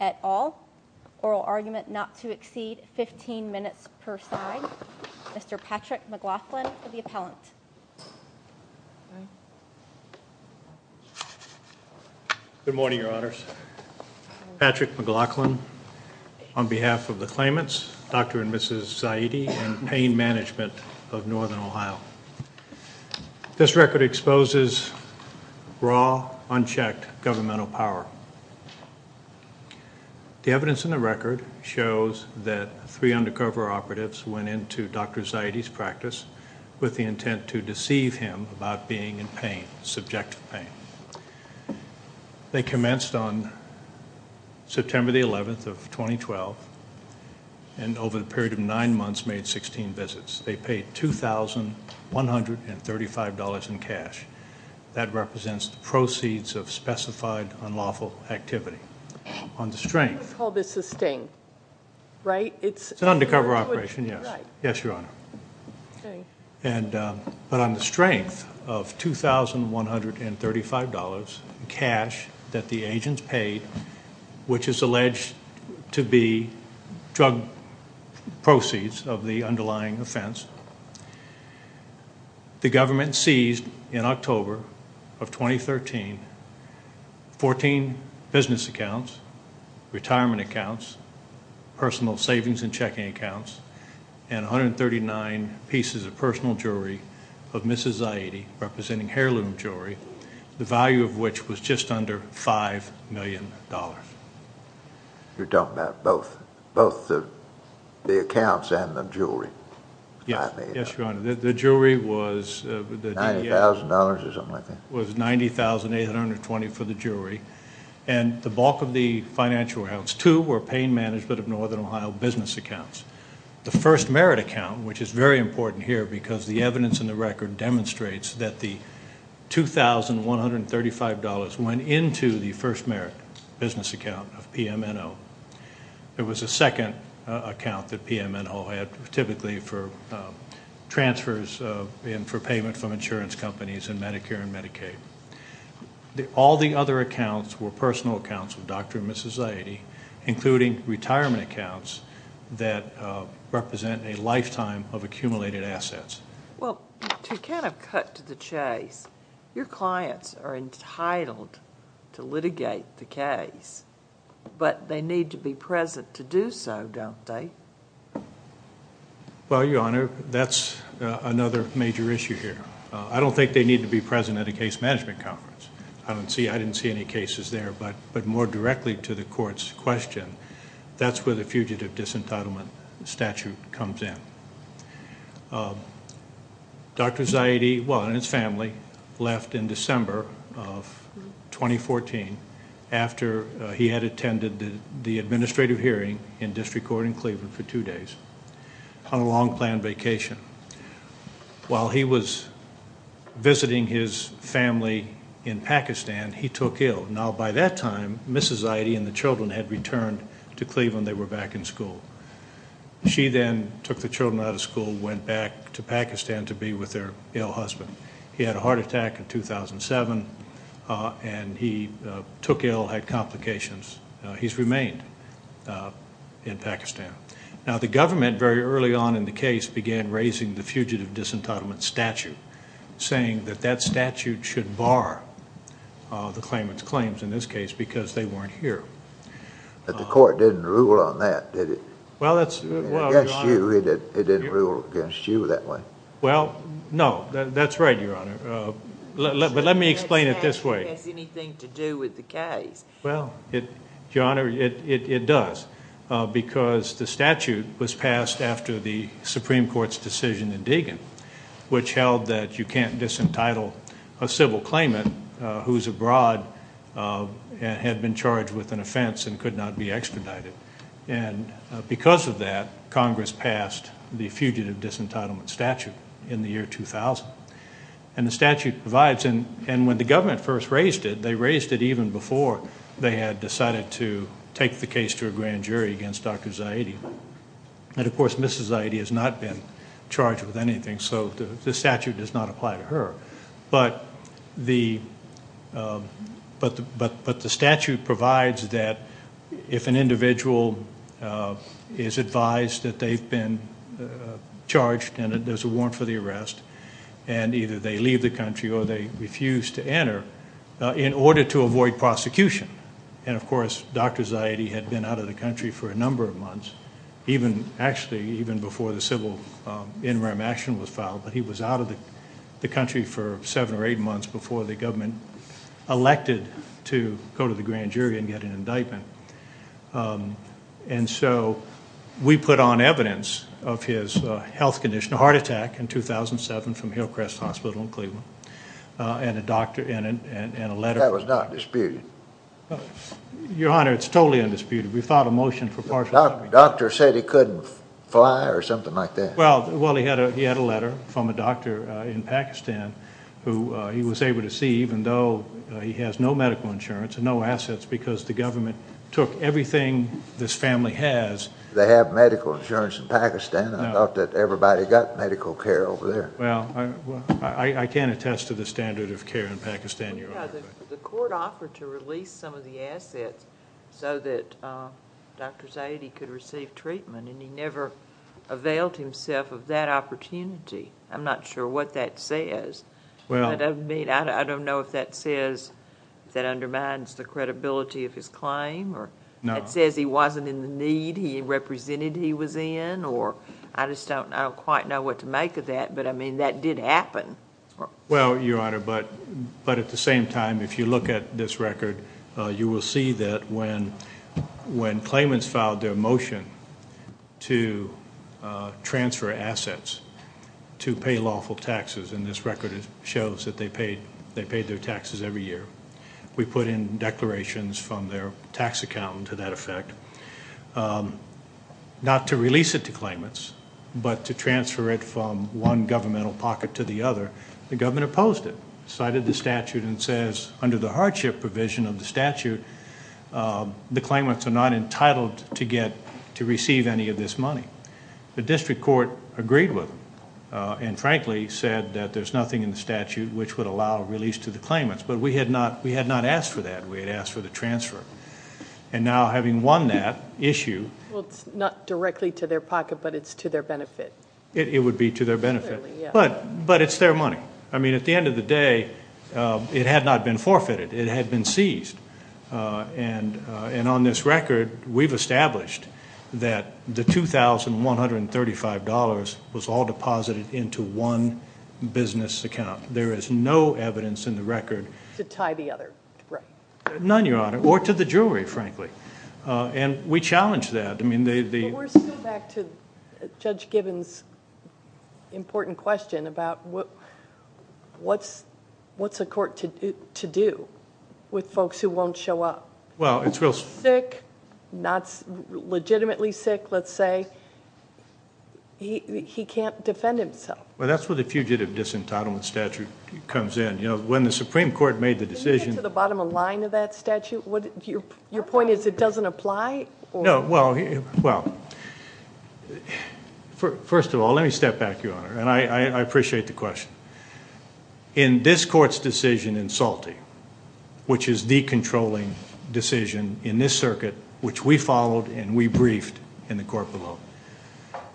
at all. Oral argument not to exceed 15 minutes per side. Mr. Patrick McLaughlin for the appellant. Good morning, your honors. Patrick McLaughlin on behalf of the claimants, Dr. and Mrs. Zaidi and pain management of northern Ohio. This record exposes raw, unchecked governmental power. The evidence in the record shows that three undercover operatives went into Dr. Zaidi's practice with the intent to deceive him about being in pain, subjective pain. They commenced on September 11th of 2012 and over a period of nine months made 16 visits. They paid $2,135 in cash. That represents proceeds of specified unlawful activity. On the strength of $2,135 in cash that the agents paid, which is alleged to be drug proceeds of the underlying offense, the government seized in October of 2013 14 business accounts. Retirement accounts, personal savings and checking accounts, and 139 pieces of personal jewelry of Mrs. Zaidi representing heirloom jewelry, the value of which was just under $5 million. You're talking about both the accounts and the jewelry. Yes, your honor. The jewelry was... $90,000 or something like that? $90,820 for the jewelry and the bulk of the financial accounts too were pain management of northern Ohio business accounts. The first merit account, which is very important here because the evidence in the record demonstrates that the $2,135 went into the first merit business account of PMNO. It was a second account that PMNO had, typically for transfers and for payment from insurance companies and Medicare and Medicaid. All the other accounts were personal accounts of Dr. and Mrs. Zaidi, including retirement accounts that represent a lifetime of accumulated assets. To cut to the chase, your clients are entitled to litigate the case, but they need to be present to do so, don't they? Your honor, that's another major issue here. I don't think they need to be present at a case management conference. I didn't see any cases there, but more directly to the court's question, that's where the fugitive disentitlement statute comes in. Dr. Zaidi and his family left in December of 2014 after he had attended the administrative hearing in District Court in Cleveland for two days on a long planned vacation. While he was visiting his family in Pakistan, he took ill. Now, by that time, Mrs. Zaidi and the children had returned to Cleveland. They were back in school. She then took the children out of school, went back to Pakistan to be with their ill husband. He had a heart attack in 2007, and he took ill, had complications. He's remained in Pakistan. Now, the government, very early on in the case, began raising the fugitive disentitlement statute, saying that that statute should bar the claimant's claims in this case because they weren't here. But the court didn't rule on that, did it? It didn't rule against you that way. Well, no. That's right, Your Honor. But let me explain it this way. It doesn't have anything to do with the case. Well, Your Honor, it does. which held that you can't disentitle a civil claimant who's abroad and had been charged with an offense and could not be expedited. And because of that, Congress passed the fugitive disentitlement statute in the year 2000. And the statute provides, and when the government first raised it, they raised it even before they had decided to take the case to a grand jury against Dr. Zaidi. And, of course, Mrs. Zaidi has not been charged with anything, so the statute does not apply to her. But the statute provides that if an individual is advised that they've been charged and there's a warrant for the arrest, and either they leave the country or they refuse to enter, in order to avoid prosecution. And, of course, Dr. Zaidi had been out of the country for a number of months, actually even before the civil in rem action was filed, but he was out of the country for seven or eight months before the government elected to go to the grand jury and get an indictment. And so we put on evidence of his health condition, a heart attack in 2007 from Hillcrest Hospital in Cleveland, and a letter from Dr. Zaidi. Your Honor, it's totally undisputed. We filed a motion for partial... The doctor said he couldn't fly or something like that. Well, he had a letter from a doctor in Pakistan who he was able to see, even though he has no medical insurance and no assets, because the government took everything this family has. They have medical insurance in Pakistan. I thought that everybody got medical care over there. Well, I can't attest to the standard of care in Pakistan, Your Honor. The court offered to release some of the assets so that Dr. Zaidi could receive treatment, and he never availed himself of that opportunity. I'm not sure what that says. I don't know if that says that undermines the credibility of his claim, or it says he wasn't in the need he represented he was in, or I just don't quite know what to make of that. But, I mean, that did happen. Well, Your Honor, but at the same time, if you look at this record, you will see that when claimants filed their motion to transfer assets to pay lawful taxes, and this record shows that they paid their taxes every year, we put in declarations from their tax accountant to that effect, not to release it to claimants, but to transfer it from one governmental pocket to the other. The government opposed it, cited the statute, and says under the hardship provision of the statute, the claimants are not entitled to receive any of this money. The district court agreed with them, and frankly said that there's nothing in the statute which would allow release to the claimants. But we had not asked for that. We had asked for the transfer. And now, having won that issue... Well, it's not directly to their pocket, but it's to their benefit. It would be to their benefit. But it's their money. I mean, at the end of the day, it had not been forfeited. It had been seized. And on this record, we've established that the $2,135 was all deposited into one business account. There is no evidence in the record... To tie the other, right. None, Your Honor, or to the jury, frankly. And we challenge that. I mean, the... But we're still back to Judge Gibbons' important question about what's a court to do with folks who won't show up? Well, it's real... Sick, not legitimately sick, let's say. He can't defend himself. Well, that's where the fugitive disentitlement statute comes in. When the Supreme Court made the decision... Can you get to the bottom of the line of that statute? Your point is it doesn't apply? No. Well, first of all, let me step back, Your Honor. And I appreciate the question. In this Court's decision in Salte, which is the controlling decision in this circuit, which we followed and we briefed in the court below,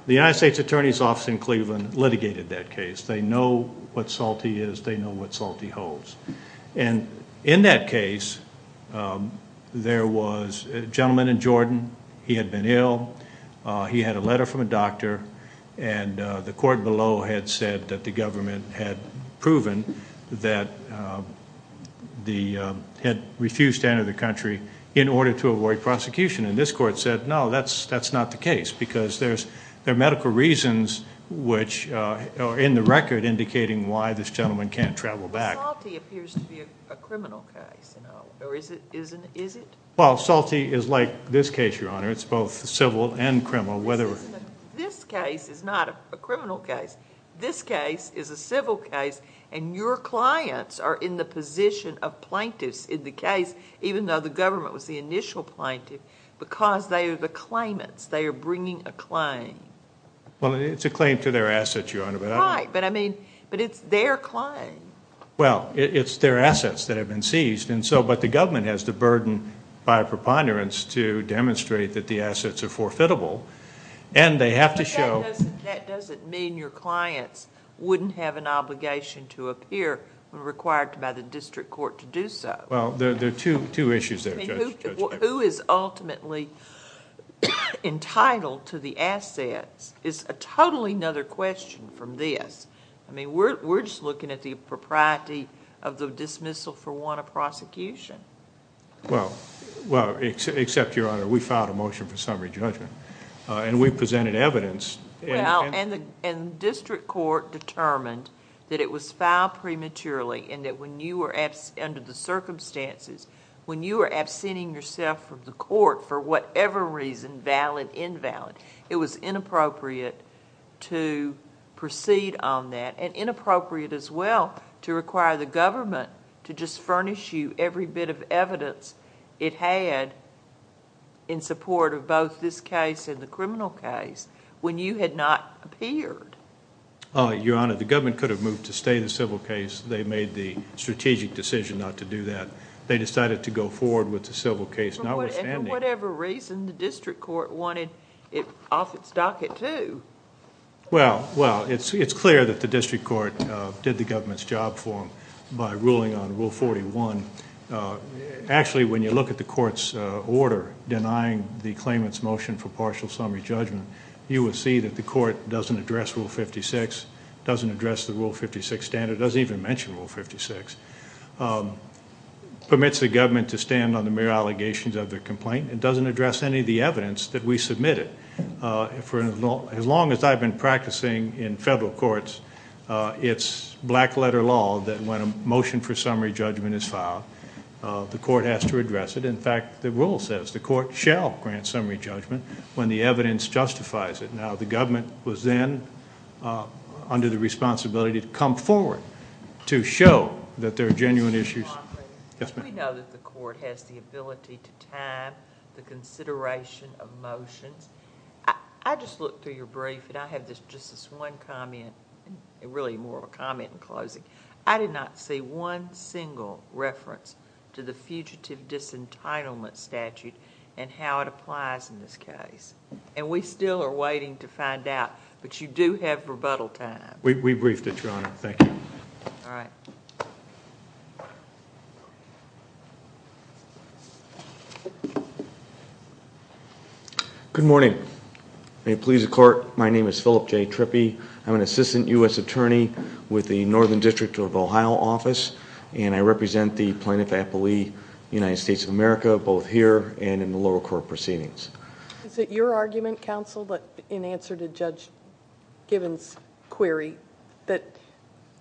the United States Attorney's Office in Cleveland litigated that case. They know what Salte is. They know what Salte holds. And in that case, there was a gentleman in Jordan. He had been ill. He had a letter from a doctor, and the court below had said that the government had proven that they had refused to enter the country in order to avoid prosecution. And this court said, no, that's not the case, because there are medical reasons which are in the record indicating why this gentleman can't travel back. But Salte appears to be a criminal case, or is it? Well, Salte is like this case, Your Honor. It's both civil and criminal. This case is not a criminal case. This case is a civil case, and your clients are in the position of plaintiffs in the case, even though the government was the initial plaintiff, because they are the claimants. They are bringing a claim. Well, it's a claim to their assets, Your Honor. Right, but it's their claim. Well, it's their assets that have been seized, but the government has the burden by a preponderance to demonstrate that the assets are forfeitable, and they have to show... But that doesn't mean your clients wouldn't have an obligation to appear when required by the district court to do so. Well, there are two issues there, Judge. Who is ultimately entitled to the assets is a totally another question from this. I mean, we're just looking at the propriety of the dismissal for want of prosecution. Well, except, Your Honor, we filed a motion for summary judgment, and we presented evidence... Well, and the district court determined that it was filed prematurely and that under the circumstances, when you are absenting yourself from the court for whatever reason, valid, invalid, it was inappropriate to proceed on that, and inappropriate as well to require the government to just furnish you every bit of evidence it had in support of both this case and the criminal case when you had not appeared. Your Honor, the government could have moved to stay the civil case. They made the strategic decision not to do that. They decided to go forward with the civil case, notwithstanding... Well, it's clear that the district court did the government's job for them by ruling on Rule 41. Actually, when you look at the court's order denying the claimant's motion for partial summary judgment, you will see that the court doesn't address Rule 56, doesn't address the Rule 56 standard, doesn't even mention Rule 56, permits the government to stand on the mere allegations of the complaint, and doesn't address any of the evidence that we submitted. As long as I've been practicing in federal courts, it's black-letter law that when a motion for summary judgment is filed, the court has to address it. In fact, the rule says the court shall grant summary judgment when the evidence justifies it. Now, the government was then under the responsibility to come forward to show that there are genuine issues... We know that the court has the ability to time the consideration of motions. I just looked through your brief, and I have just this one comment, really more of a comment in closing. I did not see one single reference to the fugitive disentitlement statute and how it applies in this case. We still are waiting to find out, but you do have rebuttal time. We briefed it, Your Honor. Thank you. All right. Thank you. Good morning. May it please the court, my name is Philip J. Trippi. I'm an assistant U.S. attorney with the Northern District of Ohio office, and I represent the plaintiff-appellee, United States of America, both here and in the lower court proceedings. Is it your argument, counsel, that in answer to Judge Gibbons' query, that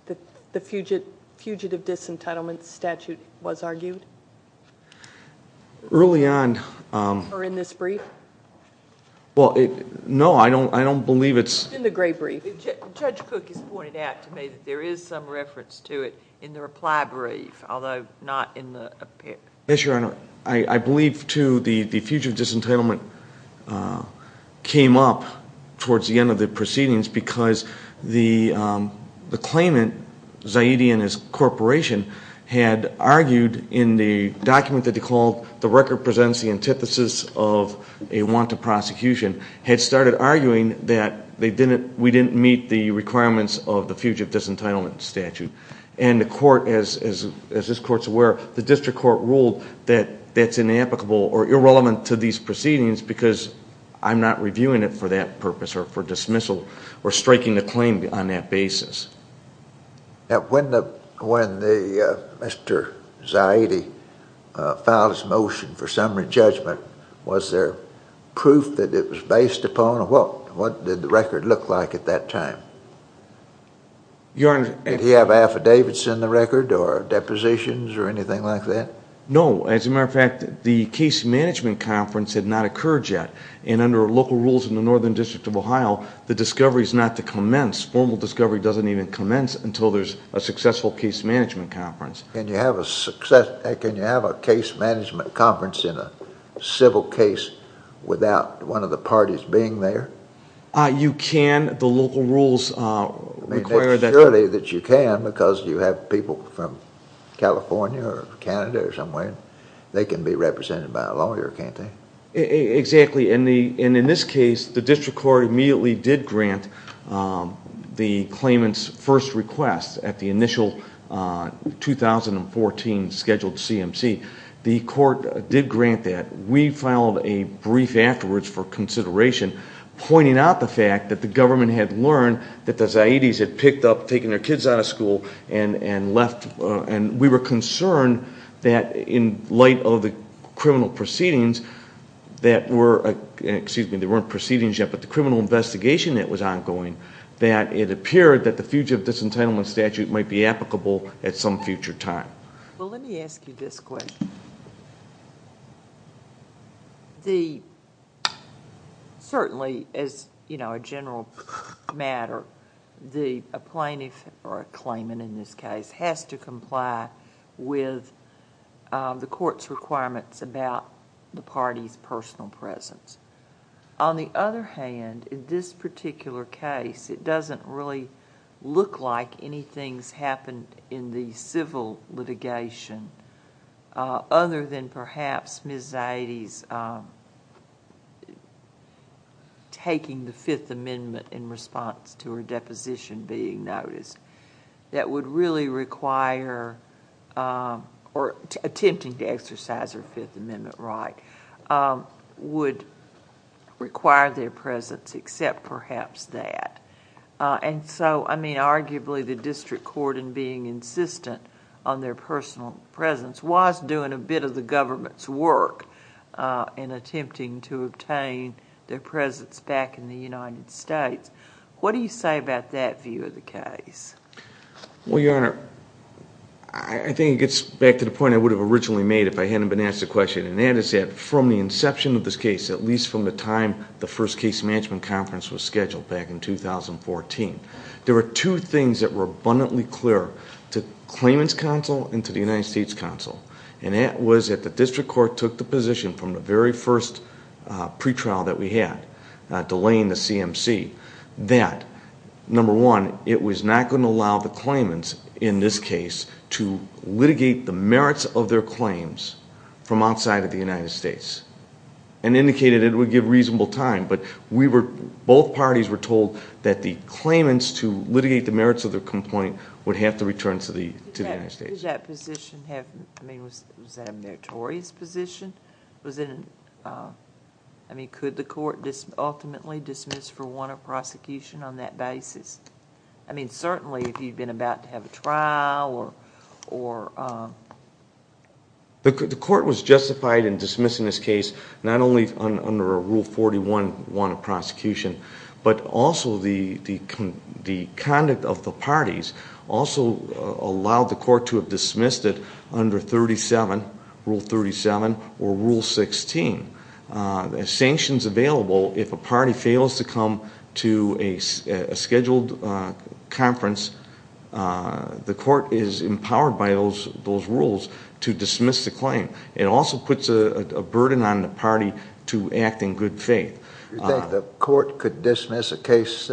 the fugitive disentitlement statute was argued? Early on... Or in this brief? Well, no, I don't believe it's... In the gray brief. Judge Cook has pointed out to me that there is some reference to it in the reply brief, although not in the... Yes, Your Honor. I believe, too, the fugitive disentitlement came up towards the end of the claimant, Zaidi and his corporation, had argued in the document that they called The Record Presents the Antithesis of a Wanted Prosecution, had started arguing that we didn't meet the requirements of the fugitive disentitlement statute. And the court, as this court's aware, the district court ruled that that's inapplicable or irrelevant to these proceedings because I'm not reviewing it for that purpose or for dismissal or striking the claim on that basis. Now, when Mr. Zaidi filed his motion for summary judgment, was there proof that it was based upon? What did the record look like at that time? Your Honor... Did he have affidavits in the record or depositions or anything like that? No. As a matter of fact, the case management conference had not occurred yet. And under local rules in the Northern District of Ohio, the discovery is not to commence. Formal discovery doesn't even commence until there's a successful case management conference. Can you have a case management conference in a civil case without one of the parties being there? You can. The local rules require that... Surely that you can because you have people from California or Canada or somewhere. They can be represented by a lawyer, can't they? Exactly. In this case, the district court immediately did grant the claimant's first request at the initial 2014 scheduled CMC. The court did grant that. We filed a brief afterwards for consideration, pointing out the fact that the government had learned that the Zaidis had picked up taking their kids out of school and left. We were concerned that in light of the criminal proceedings that were... Excuse me, there weren't proceedings yet, but the criminal investigation that was ongoing, that it appeared that the fugitive disentitlement statute might be applicable at some future time. Let me ask you this question. Certainly, as a general matter, a plaintiff or a claimant in this case has to comply with the court's requirements about the party's personal presence. On the other hand, in this particular case, it doesn't really look like anything's happened in the civil litigation other than perhaps Ms. Zaidis taking the Fifth Amendment in response to her deposition being noticed. Attempting to exercise her Fifth Amendment right would require their presence except perhaps that. Arguably, the district court in being insistent on their personal presence was doing a bit of the government's work in attempting to obtain their presence back in the United States. What do you say about that view of the case? Well, Your Honor, I think it gets back to the point I would have originally made if I hadn't been asked the question. That is that from the inception of this case, at least from the time the first case management conference was scheduled back in 2014, there were two things that were abundantly clear to Claimant's Counsel and to the United States Counsel. That was that the district court took the position from the very first pre-trial that we had, delaying the CMC, that number one, it was not going to allow the claimants in this case to litigate the merits of their claims from outside of the United States and indicated it would give reasonable time, but both parties were told that the claimants to litigate the merits of their complaint would have to return to the United States. Could that position have... was that a meritorious position? Could the court ultimately dismiss for one of prosecution on that basis? Certainly, if you'd been about to have a trial or... The court was justified in dismissing this case not only under Rule 41, one of prosecution, but also the conduct of the parties also allowed the court to dismiss it under Rule 37 or Rule 16. Sanctions available, if a party fails to come to a scheduled conference, the court is empowered by those rules to dismiss the claim. It also puts a burden on the party to act in good faith. Do you think the court could dismiss a case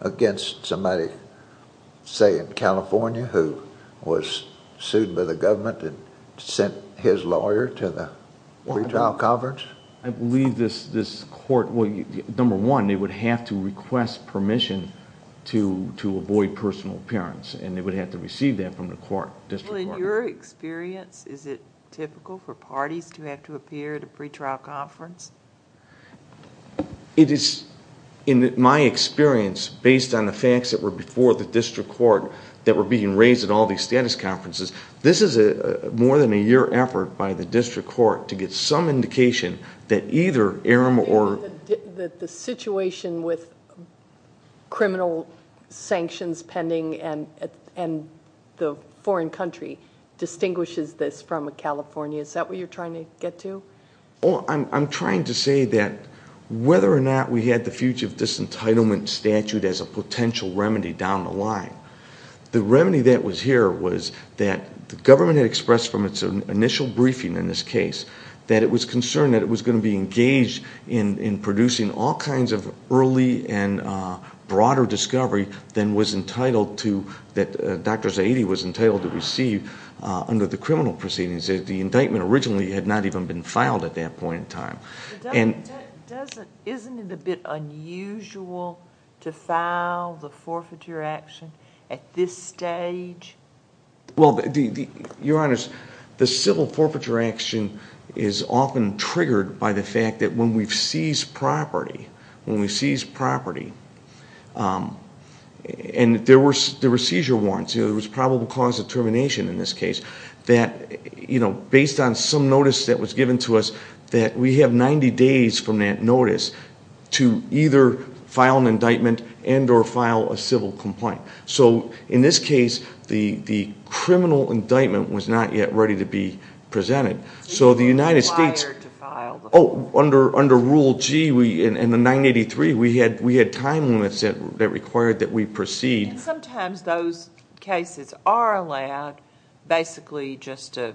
against somebody, say, in which he was sued by the government and sent his lawyer to the pretrial conference? I believe this court... number one, they would have to request permission to avoid personal appearance, and they would have to receive that from the court, district court. In your experience, is it typical for parties to have to appear at a pretrial conference? In my experience, based on the facts that were before the district court that were being raised at all these status conferences, this is more than a year effort by the district court to get some indication that either Aram or... The situation with criminal sanctions pending and the foreign country distinguishes this from California. Is that what you're trying to get to? I'm trying to say that whether or not we had the future of disentitlement statute as a potential remedy down the line, the remedy that was here was that the government had expressed from its initial briefing in this case that it was concerned that it was going to be engaged in producing all kinds of early and broader discovery than was entitled to... that Dr. Zaidi was entitled to receive under the criminal proceedings. The indictment originally had not even been filed at that point in time. Isn't it a bit unusual to file the forfeiture action at this stage? Your Honor, the civil forfeiture action is often triggered by the fact that when we seize property, and there were seizure warrants, there was probable cause of termination in this case, that based on some notice that was given 90 days from that notice to either file an indictment and or file a civil complaint. In this case, the criminal indictment was not yet ready to be presented, so the United States... You were required to file the... Under Rule G in the 983, we had time limits that required that we proceed. Sometimes those cases are allowed basically just to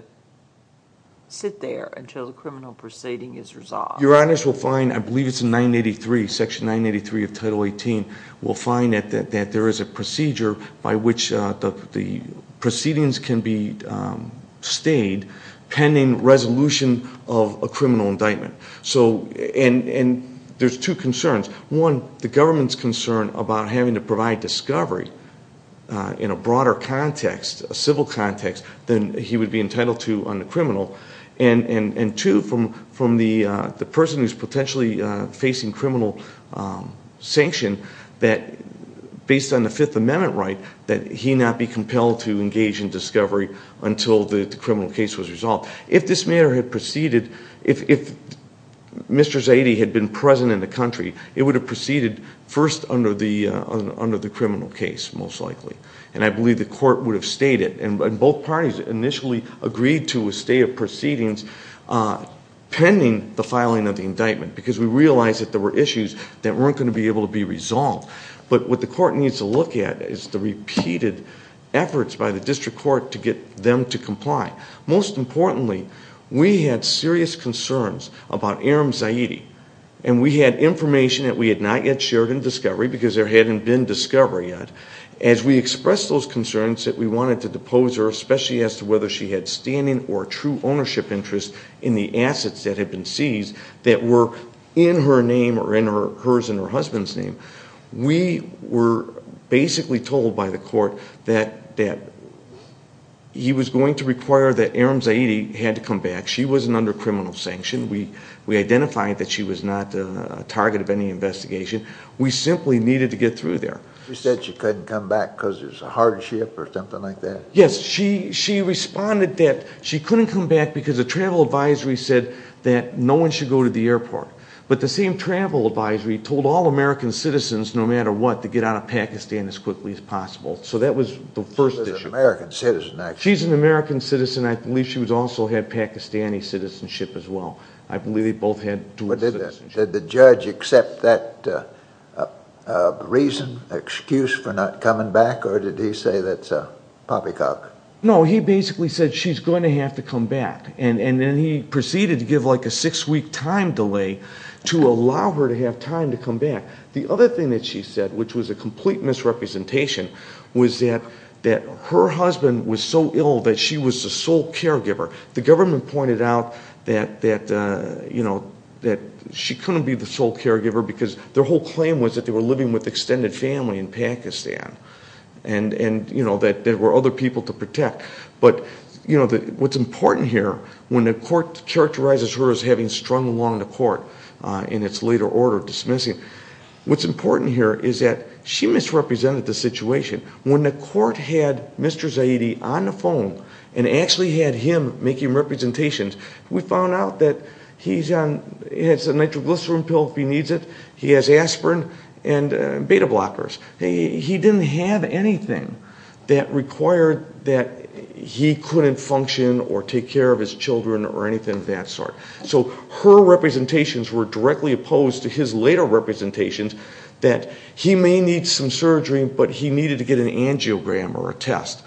sit there until the Your Honors will find, I believe it's in Section 983 of Title 18, will find that there is a procedure by which the proceedings can be stayed pending resolution of a criminal indictment. There's two concerns. One, the government's concern about having to provide discovery in a broader context, a civil context, than he would be entitled to under criminal. Two, from the person who's potentially facing criminal sanction, that based on the Fifth Amendment right, that he not be compelled to engage in discovery until the criminal case was resolved. If this matter had proceeded... If Mr. Zadie had been present in the country, it would have proceeded first under the criminal case, most likely. I believe the court would have stayed it. Both parties initially agreed to a stay of proceedings pending the filing of the indictment because we realized that there were issues that weren't going to be able to be resolved. What the court needs to look at is the repeated efforts by the district court to get them to comply. Most importantly, we had serious concerns about Aram Zadie. We had information that we had not yet shared in discovery because there hadn't been discovery yet. As we expressed those concerns that we wanted to depose her, especially as to whether she had standing or true ownership interest in the assets that had been seized that were in her name or in hers and her husband's name, we were basically told by the court that he was going to require that Aram Zadie had to come back. She wasn't under criminal sanction. We identified that she was not a target of any investigation. We simply needed to get through there. You said she couldn't come back because it was a hardship or something like that? Yes. She responded that she couldn't come back because the travel advisory said that no one should go to the airport. But the same travel advisory told all American citizens, no matter what, to get out of Pakistan as quickly as possible. So that was the first issue. She was an American citizen actually. She's an American citizen. I believe she also had Pakistani citizenship as well. I believe they both had dual citizenship. Did the judge accept that reason, excuse for not coming back, or did he say that's a poppycock? No, he basically said she's going to have to come back, and then he proceeded to give like a six-week time delay to allow her to have time to come back. The other thing that she said, which was a complete misrepresentation, was that her husband was so ill that she was the sole caregiver. The government pointed out that she couldn't be the sole caregiver because their whole claim was that they were living with extended family in Pakistan and that there were other people to protect. But what's important here, when the court characterizes her as having strung along the court in its later order of dismissing, what's important here is that she misrepresented the situation. When the court had Mr. Zaidi on the phone and actually had him making representations, we found out that he has a nitroglycerin pill if he needs it, he has aspirin, and beta blockers. He didn't have anything that required that he couldn't function or take care of his children or anything of that sort. So her representations were directly opposed to his later representations that he may need some surgery, but he needed to get an angiogram or a test.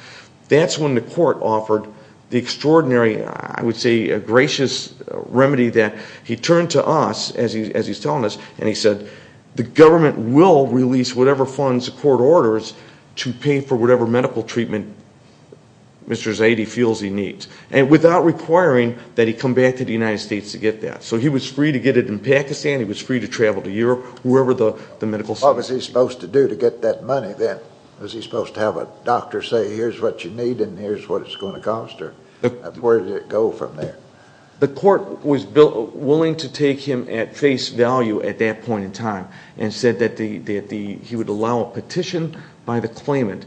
That's when the court offered the extraordinary, I would say, gracious remedy that he turned to us, as he's telling us, and he said, the government will release whatever funds the court orders to pay for whatever medical treatment Mr. Zaidi feels he needs, and without requiring that he come back to the United States to get that. So he was free to get it in Pakistan, he was free to travel to Europe, wherever the medical system was. What was he supposed to do to get that money then? Was he supposed to have a doctor say, here's what you need and here's what it's going to cost, or where did it go from there? The court was willing to take him at face value at that point in time and said that he would allow a petition by the claimant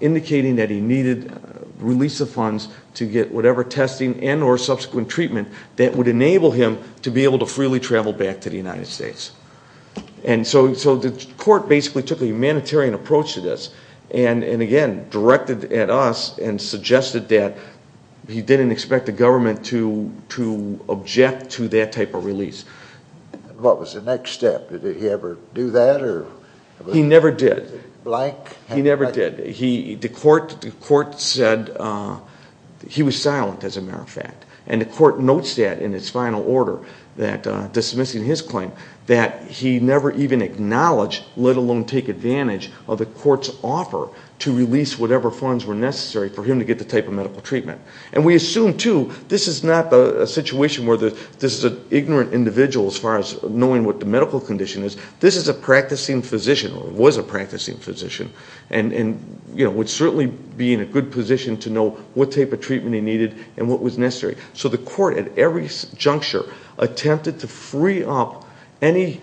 indicating that he needed release of funds to get whatever testing and or subsequent treatment that would enable him to be able to freely travel back to the United States. So the court basically took a humanitarian approach to this and again directed at us and suggested that he didn't expect the government to object to that type of release. What was the next step? Did he ever do that? He never did. Blank? He never did. The court said he was silent, as a matter of fact, and the court notes that in its final order, dismissing his claim, that he never even acknowledged, let alone take advantage of the court's offer to release whatever funds were necessary for him to get the type of medical treatment. And we assume, too, this is not a situation where this is an ignorant individual as far as knowing what the medical condition is. This is a practicing physician or was a practicing physician and would certainly be in a good position to know what type of treatment he needed and what was necessary. So the court at every juncture attempted to free up any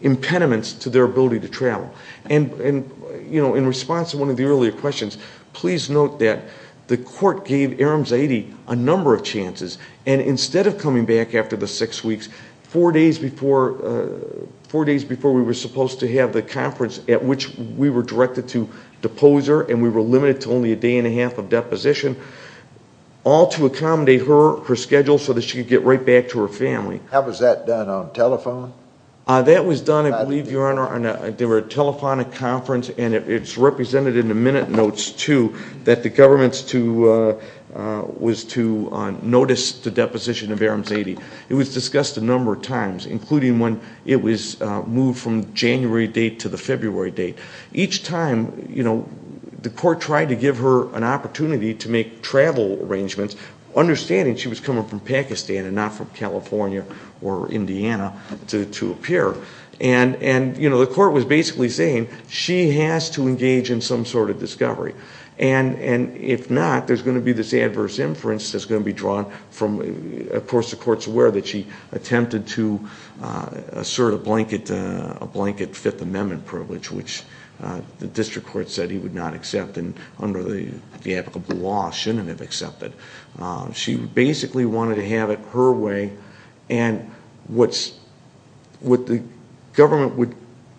impediments to their ability to travel. And in response to one of the earlier questions, please note that the court gave Aram Zaidi a number of chances and instead of coming back after the six weeks, four days before we were supposed to have the conference at which we were directed to depose her and we were limited to only a day and a half of deposition, all to accommodate her schedule so that she could get right back to her family. How was that done? On telephone? That was done, I believe, Your Honor, on a telephonic conference and it's represented in the minute notes, too, that the government was to notice the deposition of Aram Zaidi. It was discussed a number of times, including when it was moved from the January date to the February date. Each time, you know, the court tried to give her an opportunity to make travel arrangements, understanding she was coming from Pakistan and not from California or Indiana to appear. And, you know, the court was basically saying, she has to engage in some sort of discovery. And if not, there's going to be this adverse inference that's going to be drawn from, of course, the court's aware that she attempted to assert a blanket Fifth Amendment privilege, which the district court said he would not accept and, under the applicable law, shouldn't have accepted. She basically wanted to have it her way. And what the government would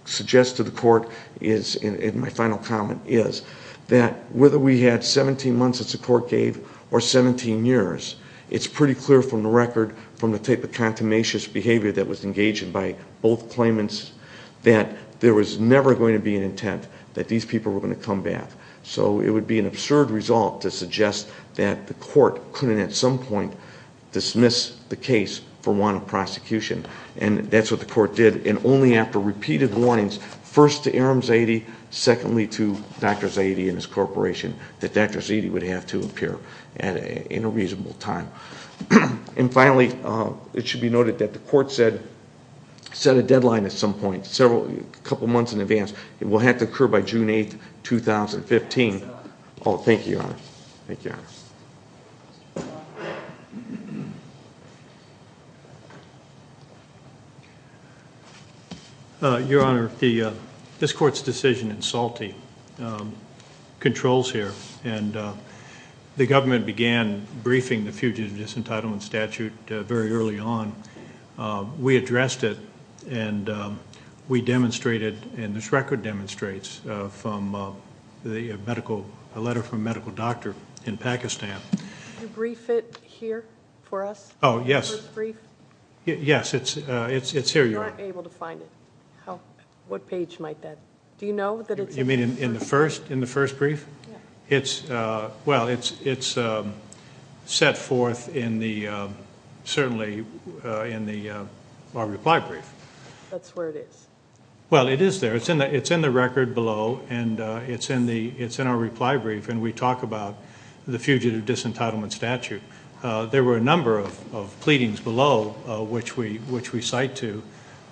suggest to the court, and my final comment is, that whether we had 17 months, as the court gave, or 17 years, it's pretty clear from the record, from the type of contumacious behavior that was engaged in by both claimants, that there was never going to be an intent that these people were going to come back. So it would be an absurd result to suggest that the court couldn't at some point dismiss the case for want of prosecution. And that's what the court did, and only after repeated warnings, first to Aram Zaidi, secondly to Dr. Zaidi and his corporation, that Dr. Zaidi would have to appear in a reasonable time. And finally, it should be noted that the court said, set a deadline at some point, a couple months in advance. It will have to occur by June 8, 2015. Thank you, Your Honor. Your Honor, this court's decision in Salte controls here, and the government began briefing the fugitive disentitlement statute very early on. We addressed it, and we demonstrated, and this record demonstrates, a letter from a medical doctor in Pakistan. Did you brief it here for us? Yes, it's here, Your Honor. What page might that be? In the first brief? Well, it's set forth certainly in our reply brief. That's where it is. Well, it is there. It's in the record below, and it's in our reply brief, and we talk about the fugitive disentitlement statute. There were a number of pleadings below, which we cite to,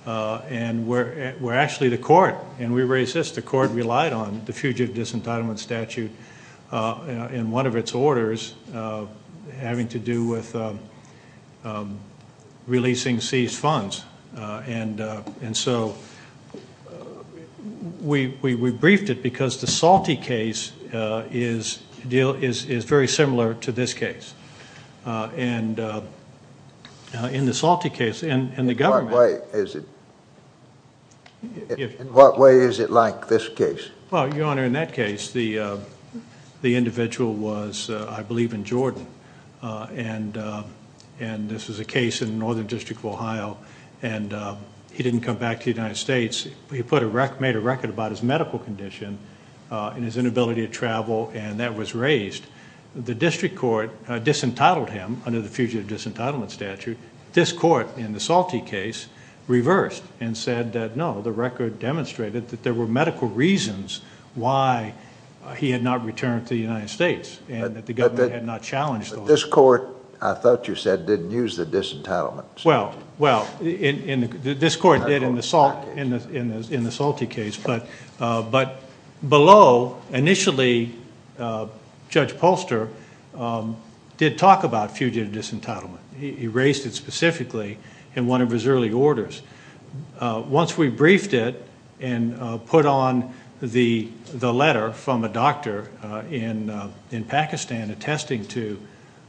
and we're actually the court, and we raised this. The court relied on the fugitive disentitlement statute in one of its orders having to do with releasing seized funds, and so we briefed it because the Salte case is very similar to this case. In the Salte case, and the government... In what way is it like, this case? Well, Your Honor, in that case, the individual was, I believe, in Jordan, and this was a case in Northern District of Ohio, and he didn't come back to the United States. He made a record about his medical condition and his inability to travel, and that was raised. The district court disentitled him under the fugitive disentitlement statute. This court in the Salte case reversed and said that, no, the record demonstrated that there were medical reasons why he had not returned to the United States, and that the government had not challenged those. But this court, I thought you said, didn't use the disentitlement statute. Well, this court did in the Salte case, but below, initially, Judge Polster did talk about fugitive disentitlement. He raised it specifically in one of his early orders. Once we briefed it and put on the letter from a doctor in Pakistan attesting to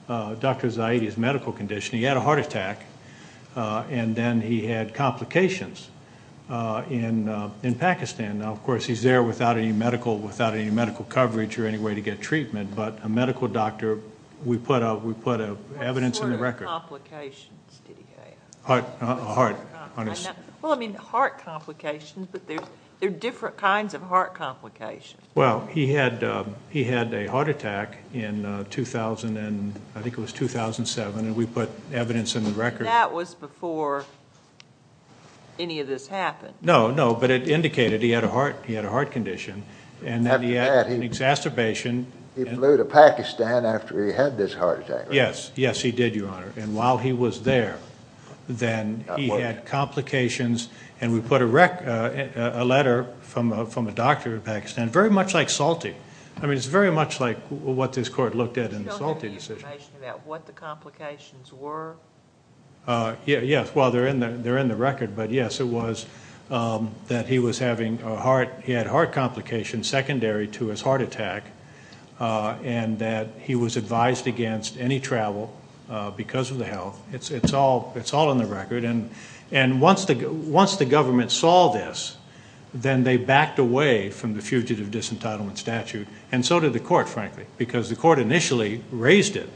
Dr. Zaidi's medical condition, he had a heart attack, and then he had complications in Pakistan. Now, of course, he's there without any medical coverage or any way to get treatment, but a medical doctor, we put evidence in the record. What sort of complications did he have? Well, I mean, heart complications, but there are different kinds of heart complications. Well, he had a heart attack in, I think it was 2007, and we put evidence in the record. That was before any of this happened. No, no, but it indicated he had a heart condition, and that he had an exacerbation. He flew to Pakistan after he had this heart attack. Yes, yes, he did, Your Honor, and while he was there, then he had complications, and we put a letter from a doctor in Pakistan, very much like Salte. I mean, it's very much like what this court looked at in the Salte decision. Do you have any information about what the complications were? Yes, well, they're in the record, but yes, it was that he was having a heart, he had heart complications secondary to his heart attack, and that he was advised against any travel because of the health. It's all in the record, and once the government saw this, then they backed away from the fugitive disentitlement statute, and so did the court, frankly, because the court initially raised it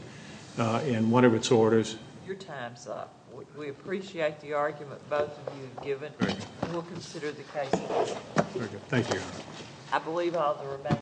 in one of its orders. Your time's up. We appreciate the argument both of you have given, and we'll consider the case. Thank you, Your Honor.